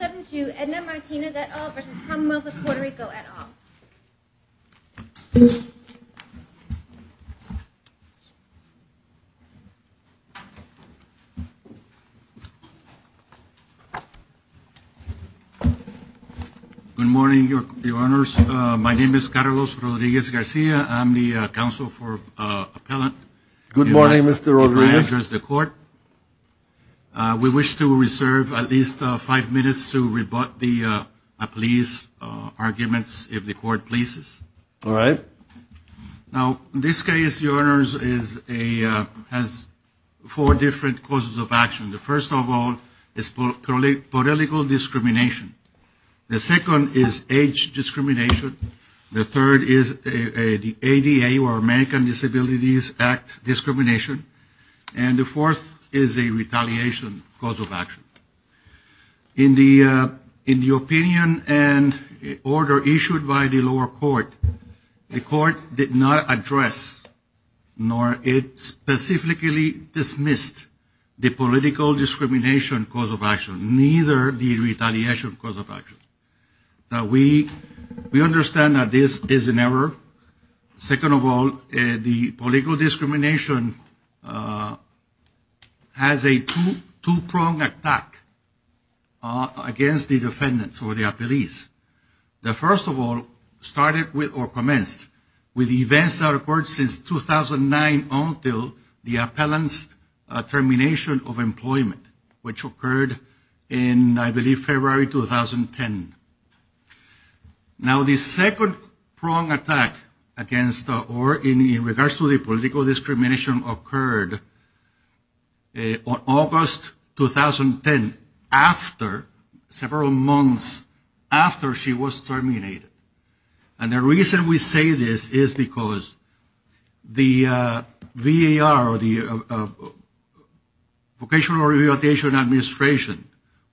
7-2 Edna Martinez et al. versus Commonwealth of Puerto Rico et al. Good morning, your honors. My name is Carlos Rodriguez-Garcia. I'm the counsel for appellant. Good morning, Mr. Rodriguez. My address is to the court. We wish to rebut the appease arguments if the court pleases. All right. Now, in this case, your honors, has four different causes of action. The first of all is political discrimination. The second is age discrimination. The third is the ADA or American Disabilities Act discrimination. And the fourth is a retaliation cause of action. In the opinion and order issued by the lower court, the court did not address nor it specifically dismissed the political discrimination cause of action, neither the retaliation cause of action. Now, we understand that this is an error. Second of all, the political discrimination has a two-pronged attack against the defendants or the appellees. The first of all started with or commenced with events that occurred since 2009 until the appellant's termination of employment, which occurred in, I believe, February 2010. Now, the second-pronged attack against or in regards to the political discrimination occurred on August 2010 after several months after she was terminated. And the reason we say this is because the VAR or the Vocational Rehabilitation Administration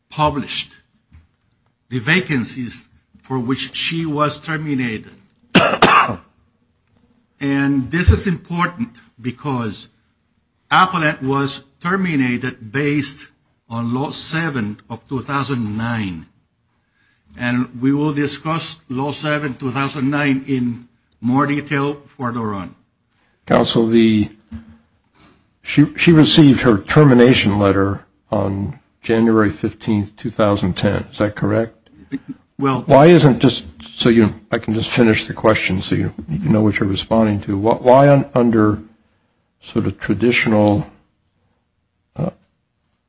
published the vacancies for which she was terminated. And this is important because appellant was terminated based on Law 7 of 2009. And we will discuss Law 7 of 2009 in more detail further on. Counsel, she received her termination letter on January 15, 2010. Is that correct? Well, why isn't just so I can just finish the question so you know what you're responding to, why under sort of traditional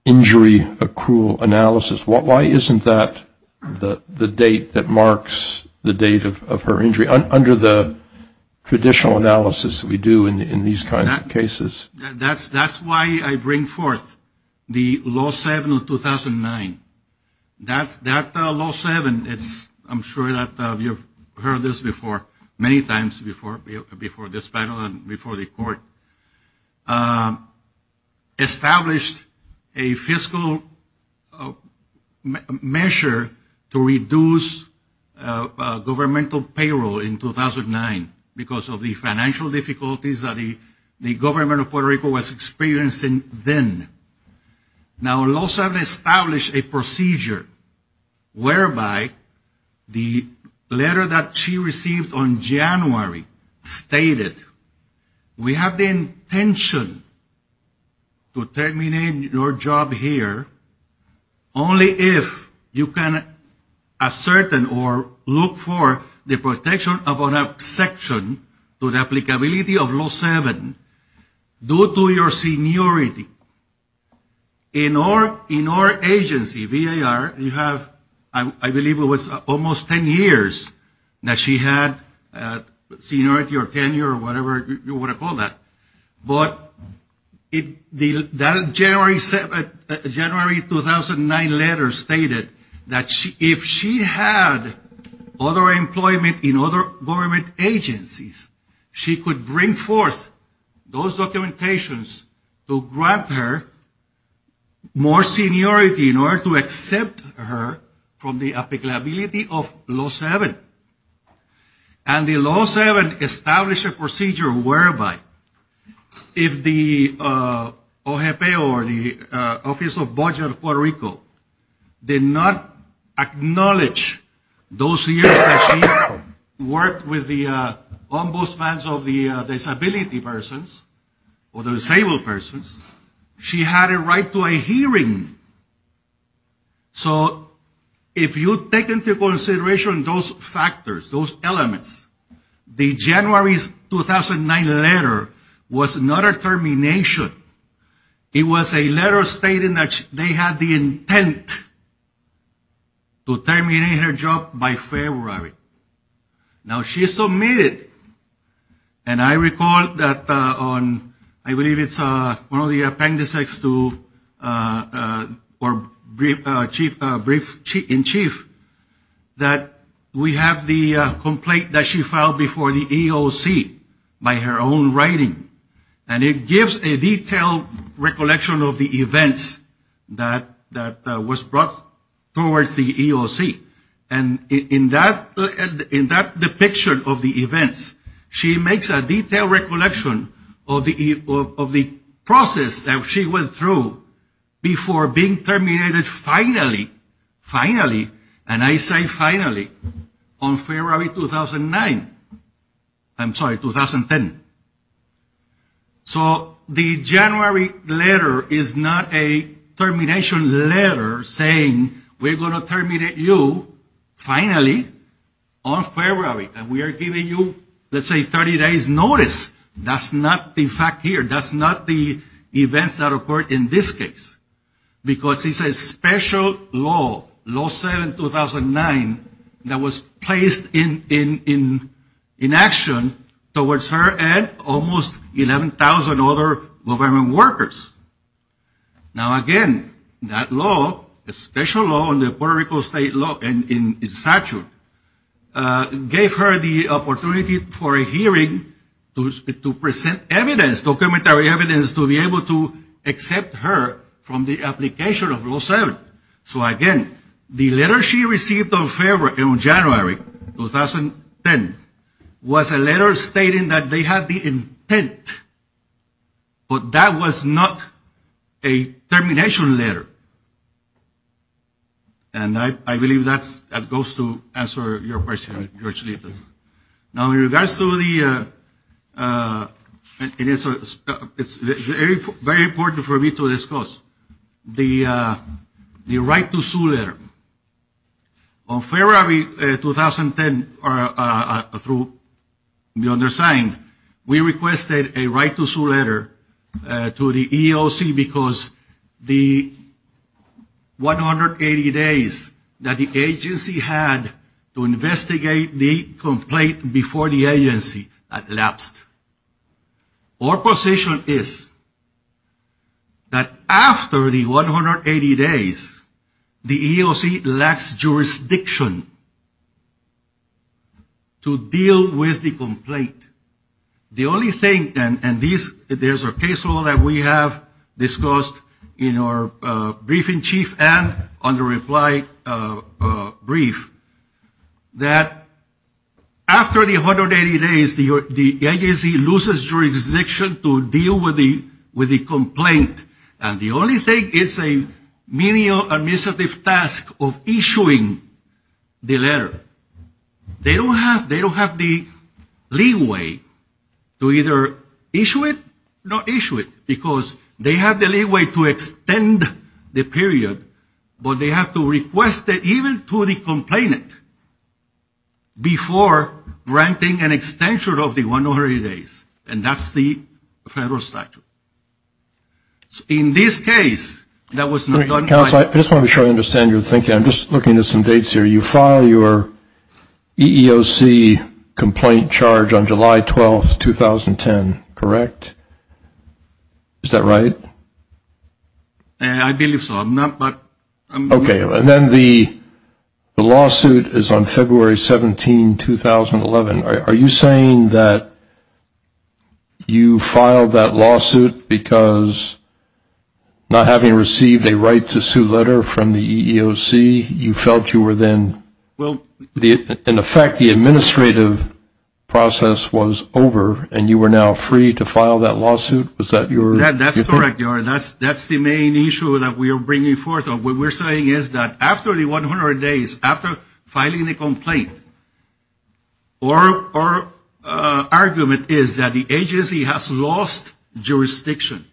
injury accrual analysis, why isn't that the date that marks the date of her injury under the traditional analysis that we do in these kinds of cases? That's why I bring forth the Law 7 of 2009. That Law 7, I'm sure that you've heard this before many times before this panel and before the court, established a fiscal measure to reduce governmental payroll in 2009 because of the financial difficulties that the the government of Puerto Rico was experiencing then. Now Law 7 established a procedure whereby the letter that she received on January stated, we have the intention to terminate your job here only if you can ascertain or look for the protection of an exception to the applicability of Law 7 due to your seniority. In our agency, VAR, you have, I believe it was almost 10 years that she had seniority or tenure or whatever you want to call that, but that January 2009 letter stated that if she had other employment in other government agencies, she could bring forth those documentations to grant her more seniority in order to accept her from the applicability of Law 7. And the Law 7 established a procedure whereby if the OJP or the Office of Budget of Puerto Rico did not acknowledge those years that she worked with the ombudsman of the disability persons or the disabled persons, she had a right to a hearing. So if you take into consideration those factors, those elements, the January 2009 letter was not a termination. It was a letter stating that they had the intent to terminate her job by February. Now she submitted, and I recall that on, I believe it's one of the appendices to, or brief in chief, that we have the complaint that she filed before the EOC by her own writing. And it gives a detailed recollection of the events that was brought towards the EOC. And in that depiction of the events, she makes a detailed recollection of the process that she went through before being terminated finally, finally, and I say finally, on February 2009. I'm sorry, 2010. So the January letter is not a termination letter saying we're going to terminate you finally on February. And we are giving you, let's say, 30 days notice. That's not the fact here. That's not the events that occurred in this case. Because it's a special law, Law 7-2009, that was placed in action towards her and almost 11,000 other government workers. Now again, that law, a special law in the Puerto Rico state law in statute, gave her the opportunity for a hearing to present evidence, documentary evidence, to be able to accept her from the application of Law 7. So again, the letter she received on January 2010 was a letter stating that they had the intent, but that was not a termination letter. And I believe that's, that goes to answer your question, George Lucas. Now in regards to the, it's very, very important for me to discuss the right to sue letter. On February 2010, through the undersigned, we requested a right to sue letter to the EEOC because the 180 days that the agency had to investigate the complaint before the agency elapsed. Our position is that after the 180 days, the EEOC lacks jurisdiction to deal with the complaint. The only thing, and these, there's a case law that we have discussed in our briefing chief and on the reply brief, that after the 180 days, the agency loses jurisdiction to deal with the complaint. And the only thing, it's a menial administrative task of issuing the letter. They don't have the leeway to either issue it or not issue it because they have the leeway to extend the period, but they have to request it even to the complainant before granting an extension of the case. I just want to be sure I understand your thinking. I'm just looking at some dates here. You file your EEOC complaint charge on July 12th, 2010, correct? Is that right? I believe so. Okay. And then the lawsuit is on February 17, 2011. Are you saying that you filed that lawsuit because not having received a right to sue letter from the EEOC, you felt you were then, in effect, the administrative process was over and you were now free to file that lawsuit? That's correct. That's the main issue that we are bringing forth. What we're saying is that after the 100 days, after filing the complaint, our argument is that the agency has lost jurisdiction.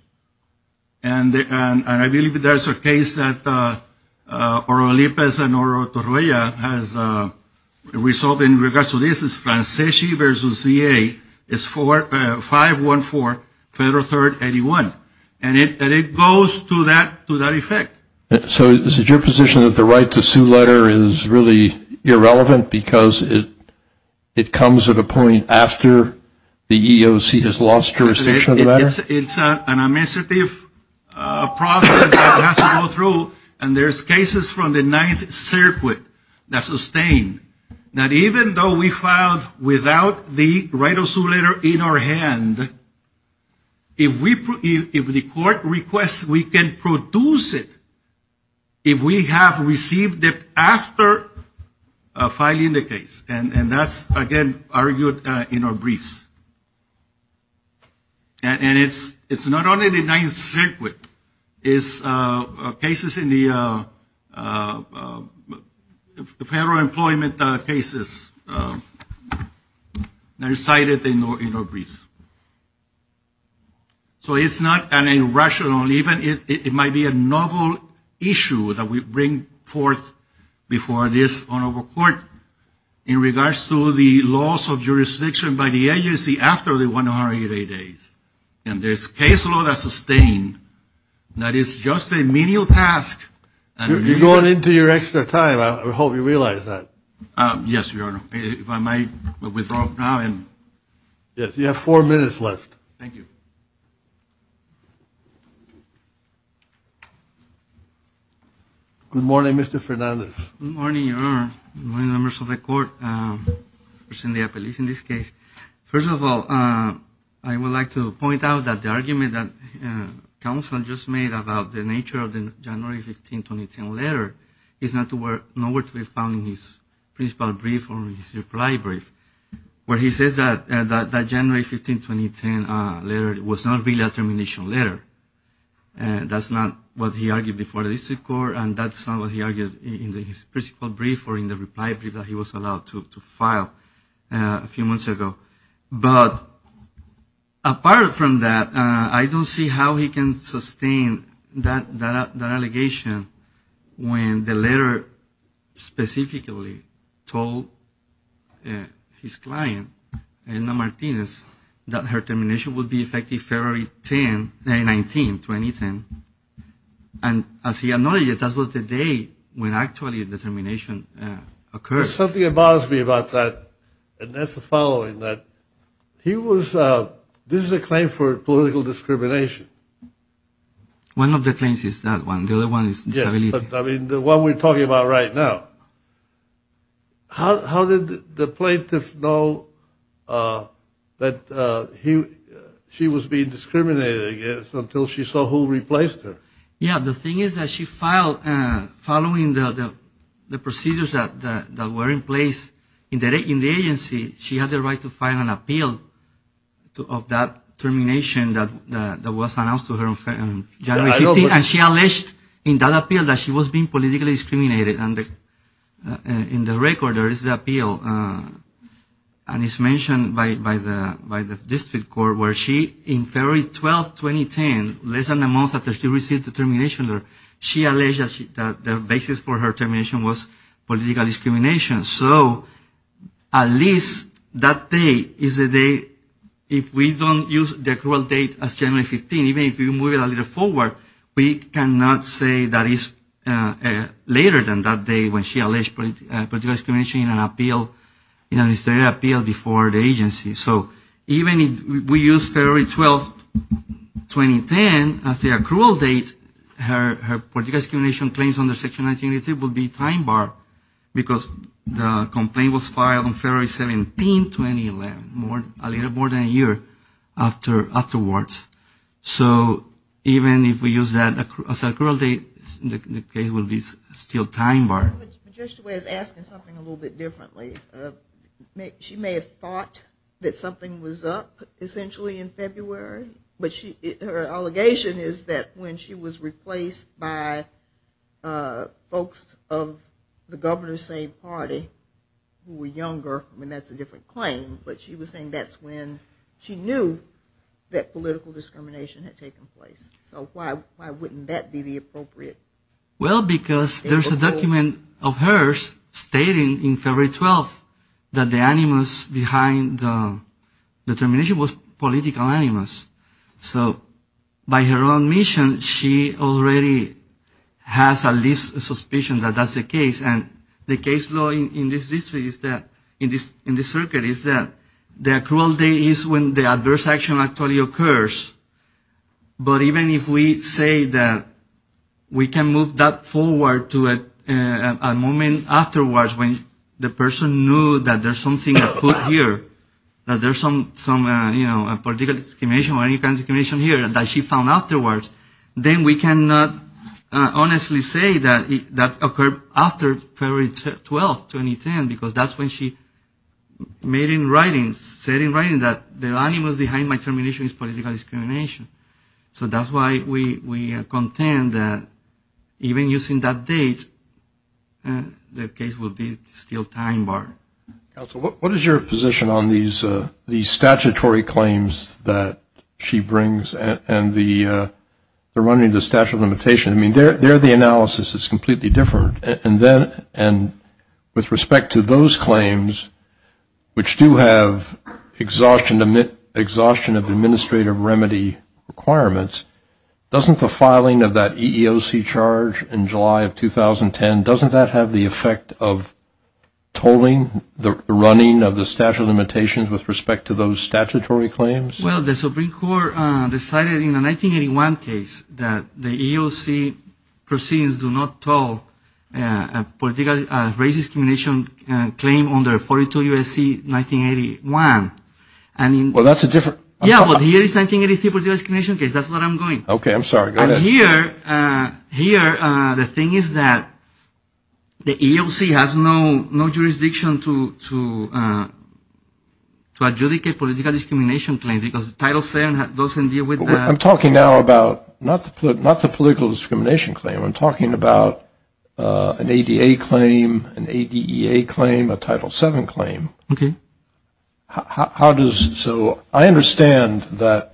And I believe there's a case that Oro Lipez and Oro Torolla has resolved in regards to this. It's Franceschi versus VA. It's 514 Federal 3rd 81. And it goes to that effect. So is it your position that the right to sue letter is really irrelevant because it comes at a point after the EEOC has lost jurisdiction? It's an administrative process that has to go through. And there's cases from the Ninth Circuit that sustain that even though we filed without the right to sue letter in our hand, if the court requests, we can produce it if we have received it after filing the case. And that's, again, argued in our briefs. And it's not only the Ninth Circuit. It's cases in the federal employment cases that are cited in our briefs. So it's not an irrational, even it might be a novel issue that we bring forth before this honorable court in regards to the loss of jurisdiction by the agency after the 108 days. And there's case law that sustain that is just a menial task. You're going into your extra time. I hope you realize that. Yes, Your Honor. If I might withdraw now. Yes, you have four minutes left. Thank you. Good morning, Mr. Fernandez. Good morning, Your Honor. Good morning, members of the court, Representative Peliz in this case. First of all, I would like to point out that the argument that counsel just made about the nature of the January 15, 2010 letter is nowhere to be found in his principal brief or in his reply brief, where he says that January 15, 2010 letter was not really a termination letter. That's not what he argued before the district court. And that's not what he argued in the principal brief or in the reply brief that he was allowed to file a few months ago. But apart from that, I don't see how he can sustain that allegation when the letter specifically told his client, Elena Martinez, that her termination would be effective February 10, 2019, 2010. And as he acknowledges, that was the day when actually the termination occurred. Something bothers me about that, and that's the following, that he was, this is a claim for political discrimination. One of the claims is that one. The other one is disability. I mean, the one we're talking about right now. How did the plaintiff know that he, she was being discriminated against until she saw who replaced her? Yeah, the thing is that she filed following the procedures that were in place in the agency. She had the right to file an appeal of that termination that was announced to her on January 15, and she alleged in that appeal that she was being politically discriminated. And in the record, there is the appeal, and it's mentioned by the district court where she, in February 12, 2010, less than a month after she received the termination, she alleged that the basis for her termination was political discrimination. So at least that day is the day, if we don't use the accrual date as January 15, even if we move it a little forward, we cannot say that it's later than that day when she alleged political discrimination in an appeal, in an administrative appeal before the agency. So even if we use February 12, 2010 as the accrual date, her political discrimination claims under Section 1986 will be time barred because the complaint was filed on February 17, 2011, a little more than a year afterwards. So even if we use that as an accrual date, the case will be still time barred. Judge DeWay is asking something a little bit differently. She may have thought that something was up essentially in February, but her allegation is that when she was replaced by folks of the governor's same party who were younger, I mean that's a different claim, but she was saying that's when she knew that political discrimination had taken place. So why wouldn't that be the appropriate statement? Well, because there's a document of hers stating in February 12 that the animus behind the determination was political animus. So by her own admission, she already has at least a suspicion that that's the case. And the case law in this circuit is that the accrual date is when the person knew that there's something afoot here, that there's some political discrimination here that she found afterwards. Then we cannot honestly say that that occurred after February 12, 2010, because that's when she said in writing that the animus behind my termination is political animus. So that's why we contend that even using that date, the case will be still time barred. Counsel, what is your position on these statutory claims that she brings and the running of the statute of limitations? I mean, there the analysis is completely different. And with respect to those claims, which do have exhaustion of administrative remedy requirements, doesn't the filing of that EEOC charge in July of 2010, doesn't that have the effect of tolling the running of the statute of limitations with respect to those statutory claims? Well, the Supreme Court decided in the 1981 case that the EEOC proceedings do not toll race discrimination claim under 42 U.S.C. 1981. Well, that's a different... Yeah, but here is 1983 discrimination case. That's where I'm going. Okay. I'm sorry. Go ahead. Here, the thing is that the EEOC has no jurisdiction to adjudicate political discrimination claims because Title VII doesn't deal with that. I'm talking now about not the political discrimination claim. I'm talking about an ADA claim, an ADEA claim, a Title VII claim. Okay. How does... So I understand that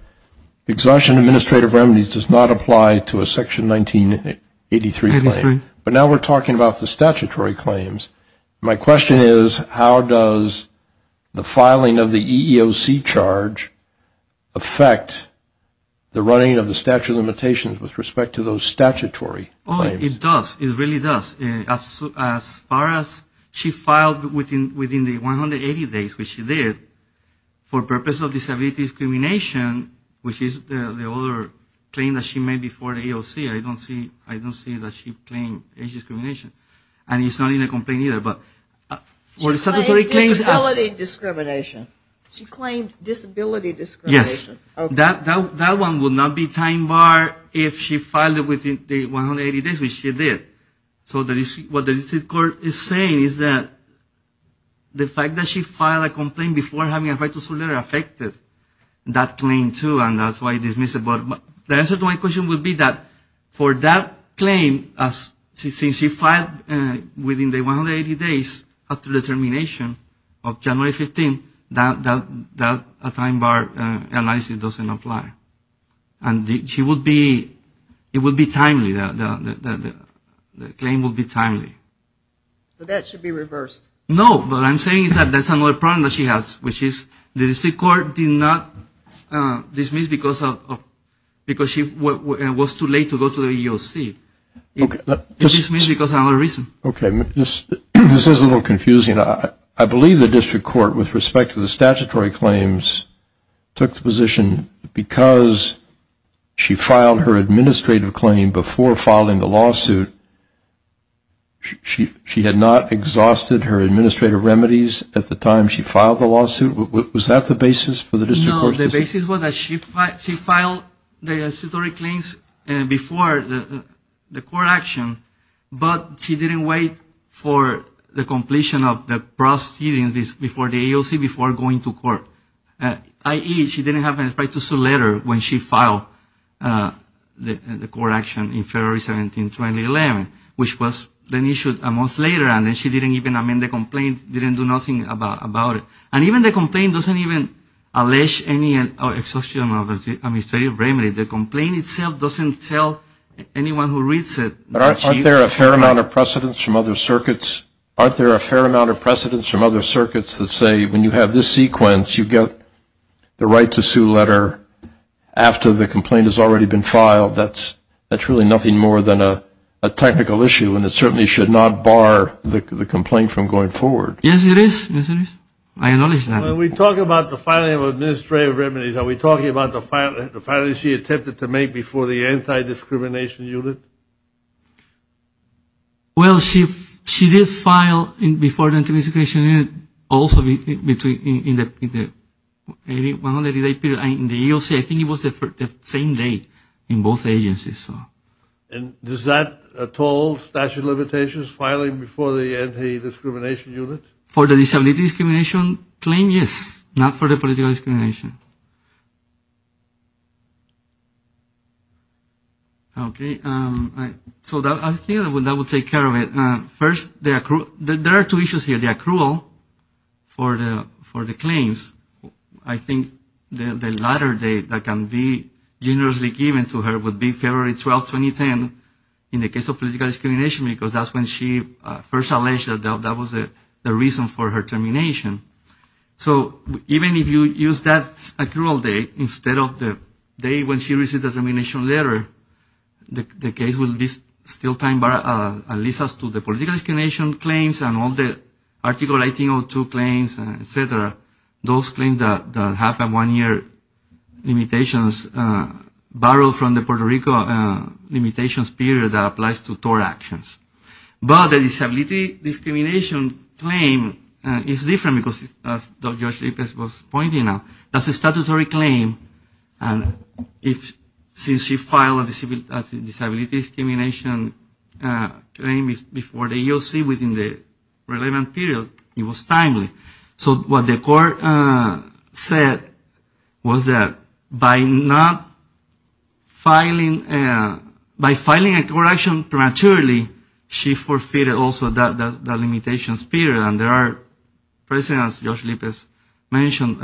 exhaustion of administrative remedies does not apply to a Section 1983 claim. But now we're talking about the statutory claims. My question is, how does the filing of the EEOC charge affect the running of the statute of limitations with respect to those statutory claims? Oh, it does. It really does. As far as she filed within the 180 days, which she did, for purpose of disability discrimination, which is the other claim that she made before the EEOC, I don't see that she claimed age discrimination. And it's not in the complaint either, but for the statutory claims... She claimed disability discrimination. She claimed disability discrimination. Yes. Okay. That one would not be time bar if she filed it within the 180 days, which she did. So what the District Court is saying is that the fact that she filed a complaint before having a right to sue her affected that claim too, and that's why it is missing. The answer to my question would be that for that claim, since she filed within the 180 days after the termination of January 15, that time bar analysis doesn't apply. And it would be timely. The claim would be timely. But that should be reversed. No. What I'm saying is that that's another problem that she has, which is the District Court did not dismiss because it was too late to go to the EEOC. It dismissed because of another reason. Okay. This is a little confusing. I believe the District Court, with respect to the statutory claims, took the position because she filed her administrative claim before filing the lawsuit, she had not exhausted her administrative remedies at the time she filed the lawsuit. Was that the basis for the District Court's decision? No. The basis was that she filed the statutory claims before the court action, but she didn't wait for the completion of the proceedings before the EEOC, before going to court, i.e., she didn't have a right to sue later when she filed the court action in February 17, 2011, which was then issued a month later, and then she didn't even amend the complaint, didn't do nothing about it. And even the complaint doesn't even allege any exhaustion of administrative remedies. The complaint itself doesn't tell anyone who reads it. But aren't there a fair amount of precedents from other circuits? Aren't there a fair amount of precedents from other circuits that say, when you have this sequence, you get the right to sue letter after the complaint has already been filed? That's really nothing more than a technical issue, and it certainly should not bar the complaint from going forward. Yes, it is. Yes, it is. I acknowledge that. When we talk about the filing of administrative remedies, are we talking about the filing she attempted to make before the anti-discrimination unit? Well, she did file before the anti-discrimination unit also in the EEOC. I think it was the same date in both agencies. And is that at all statute of limitations, filing before the anti-discrimination unit? For the disability discrimination claim, yes, not for the political discrimination. Okay, so I think that will take care of it. First, there are two issues here. The accrual for the claims, I think the latter date that can be generously given to her would be February 12, 2010 in the case of political discrimination, because that's when she first alleged that that was the reason for her termination. So even if you use that accrual date instead of the date when she received the termination letter, the case will be still time-barred, at least as to the political discrimination claims and all the Article 1802 claims, et cetera, those claims, the half and one-year limitations, barred from the Puerto Rico limitations period that applies to TOR actions. But the disability discrimination claim is different, because as Dr. George-Lopez was pointing out, that's a statutory claim, and since she filed a disability discrimination claim before the EEOC within the relevant period, it was timely. So what the court said was that by not filing, by filing a TOR action prematurely, she forfeited also that limitation period. And there are precedents, as Dr. George-Lopez mentioned,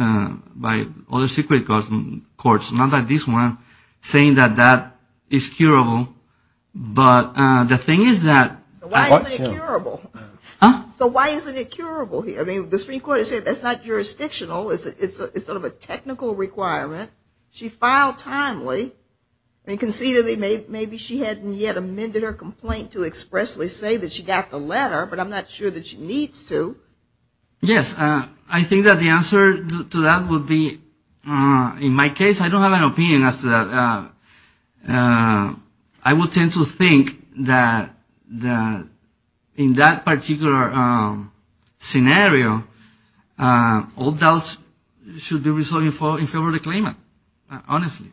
by other secret courts, not like this one, saying that that is curable. But the thing is that... So why isn't it curable? Huh? So why isn't it curable here? I mean, the Supreme Court has said that's not jurisdictional, it's sort of a technical requirement. She filed timely, and conceivably maybe she hadn't yet amended her complaint to expressly say that she got the letter, but I'm not sure that she needs to. Yes, I think that the answer to that would be, in my case, I don't have an opinion as to that. I would tend to think that, in that particular scenario, all doubts should be resolved in favor of the claimant, honestly.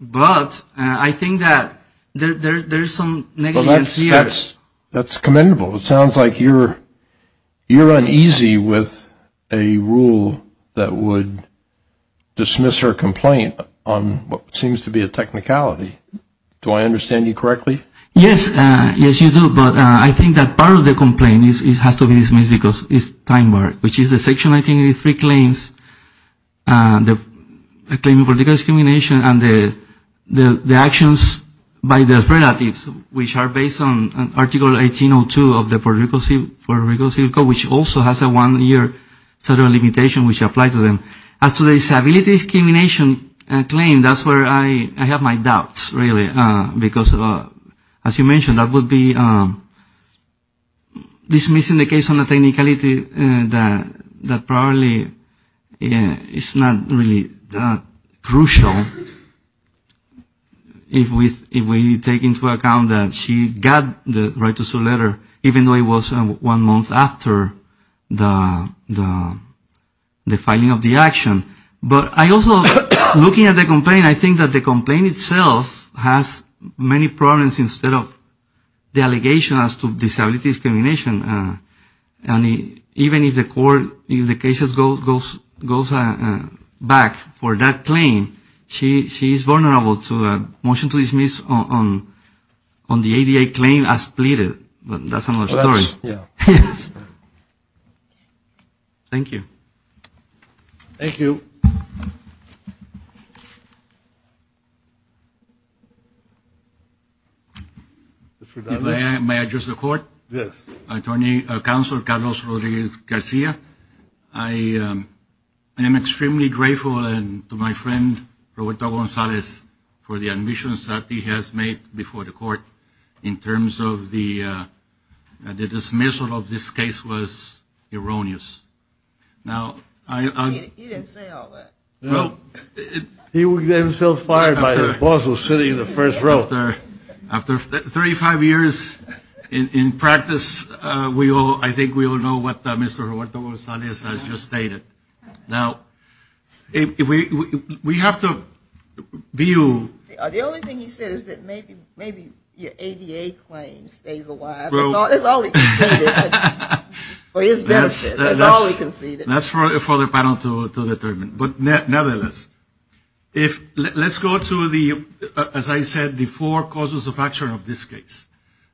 But I think that there's some negligence here. That's commendable. It sounds like you're uneasy with a rule that would dismiss her complaint on what seems to be a technicality. Do I understand you correctly? Yes. Yes, you do. But I think that part of the complaint has to be dismissed because it's time-marked, which is the Section 1983 claims, the claim for discrimination and the actions by the relatives, which are based on Article 1802 of the Puerto Rico Civil Code, which also has a one-year federal limitation which applies to them. As to the disability discrimination claim, that's where I have my doubts, really, because, as you mentioned, that would be dismissing the case on a technicality that probably is not really that crucial if we take into account that she got the right to sue letter, even though it was one month after the filing of the action. But I also, looking at the complaint, I think that the complaint itself has many problems instead of the allegation as to disability discrimination. And even if the court, if the case goes back for that claim, she is vulnerable to a motion to dismiss on the ADA claim as pleaded, but that's another story. Thank you. Thank you. May I address the court? Yes. Attorney Counsel Carlos Rodriguez-Garcia, I am extremely grateful and to my friend, Roberto Gonzalez, for the admissions that he has made before the court in terms of the dismissal of this case was erroneous. He would get himself fired by his boss who is sitting in the first row. After 35 years in practice, I think we all know what Mr. Gonzalez said. The only thing he said is that maybe your ADA claim stays alive. That's for the panel to determine. But nevertheless, let's go to the, as I said, the four causes of action of this case.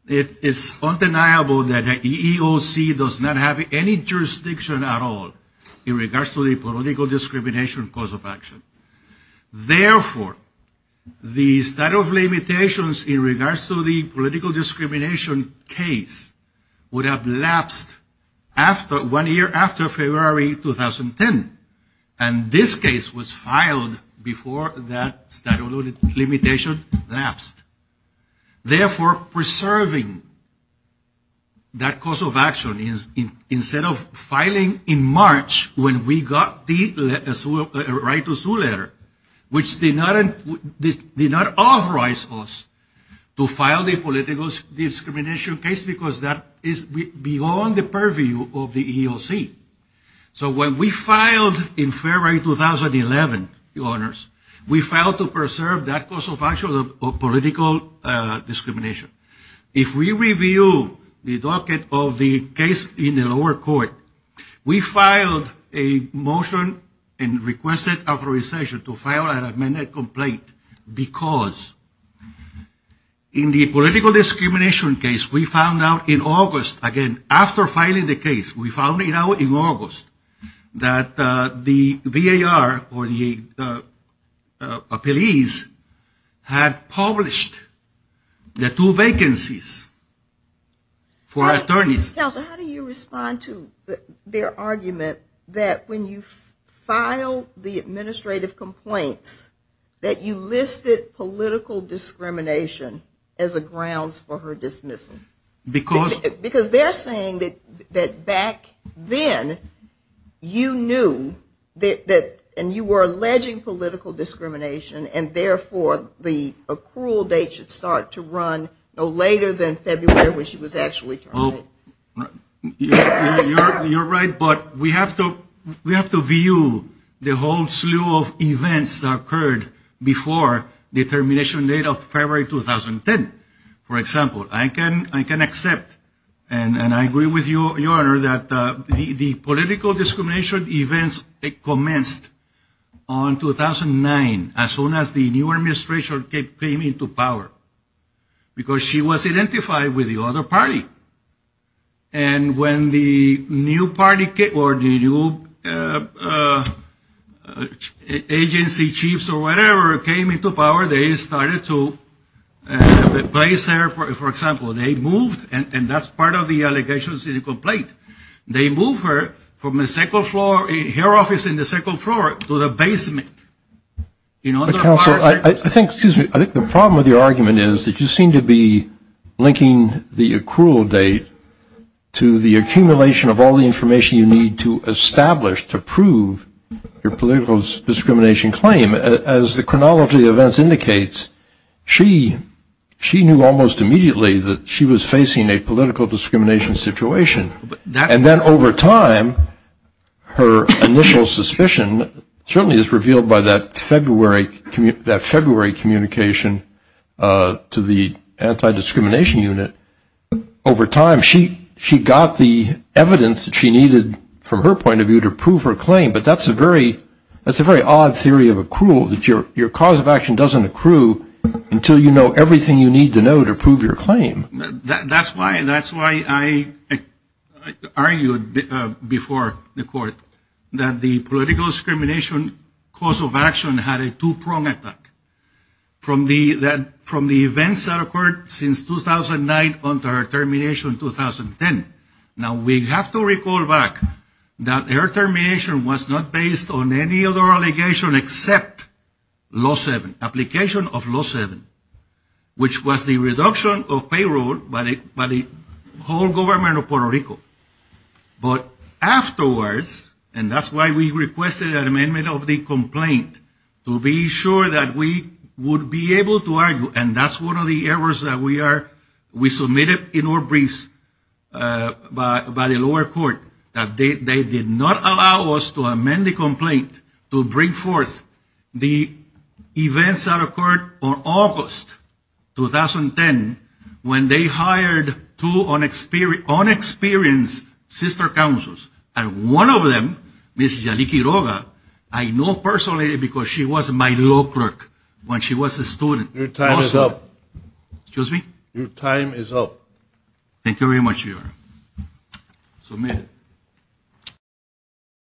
It is undeniable that the EEOC does not have any jurisdiction at all in regards to the discrimination cause of action. Therefore, the statute of limitations in regards to the political discrimination case would have lapsed one year after February 2010. And this case was filed before that statute of limitations lapsed. Therefore, preserving that cause of action, instead of filing in March when we got the right to sue letter, which did not authorize us to file the political discrimination case because that is beyond the purview of the EEOC. So when we filed in February 2011, we filed to preserve that cause of action of political discrimination. If we review the docket of the case in the lower court, we filed a motion and requested authorization to file an amended complaint because in the political discrimination case, we found out in August, again, after filing the case, we found out in August that the VAR or the police had published the two vacancies for attorneys. Counselor, how do you respond to their argument that when you file the administrative complaints that you listed political discrimination as a grounds for her dismissal? Because they are saying that back then you knew and you were alleging political discrimination and therefore the accrual date should start to run no later than February when she was actually terminated. You are right, but we have to view the whole slew of events that occurred before the termination date of February 2010. For example, I can accept and I agree with you, your honor, that the political discrimination events commenced on 2009 as soon as the new administration came into power because she was identified with the other party. And when the new party or the new agency chiefs or whatever came into power, they started to place her, for example, they moved, and that's part of the allegations in the complaint, they moved her from the second floor, her office in the second floor to the basement. You know, counsel, I think the problem with your argument is that you seem to be the accrual date to the accumulation of all the information you need to establish, to prove your political discrimination claim. As the chronology of events indicates, she knew almost immediately that she was facing a political discrimination situation. And then over time, her initial suspicion certainly is revealed by that February communication to the anti-discrimination unit. Over time, she got the evidence that she needed, from her point of view, to prove her claim. But that's a very odd theory of accrual, that your cause of action doesn't accrue until you know everything you need to know to prove your claim. That's why I argued before the court that the political discrimination cause of action had a two-pronged attack from the events that occurred since 2009 until her termination in 2010. Now, we have to recall back that her termination was not based on any other allegation except law seven, application of law seven, which was the reduction of payroll by the whole government of Puerto Rico. But afterwards, and that's why we requested an amendment of the complaint, to be sure that we would be able to argue, and that's one of the errors that we are, we submitted in our briefs by the lower court, that they did not allow us to amend the complaint to bring forth the events that occurred on August 10, 2010, when they hired two unexperienced sister counsels, and one of them, Ms. Yaliki Roga, I know personally because she was my law clerk when she was a student. Your time is up. Excuse me? Your time is up. Thank you very much, Your Honor. Submitted.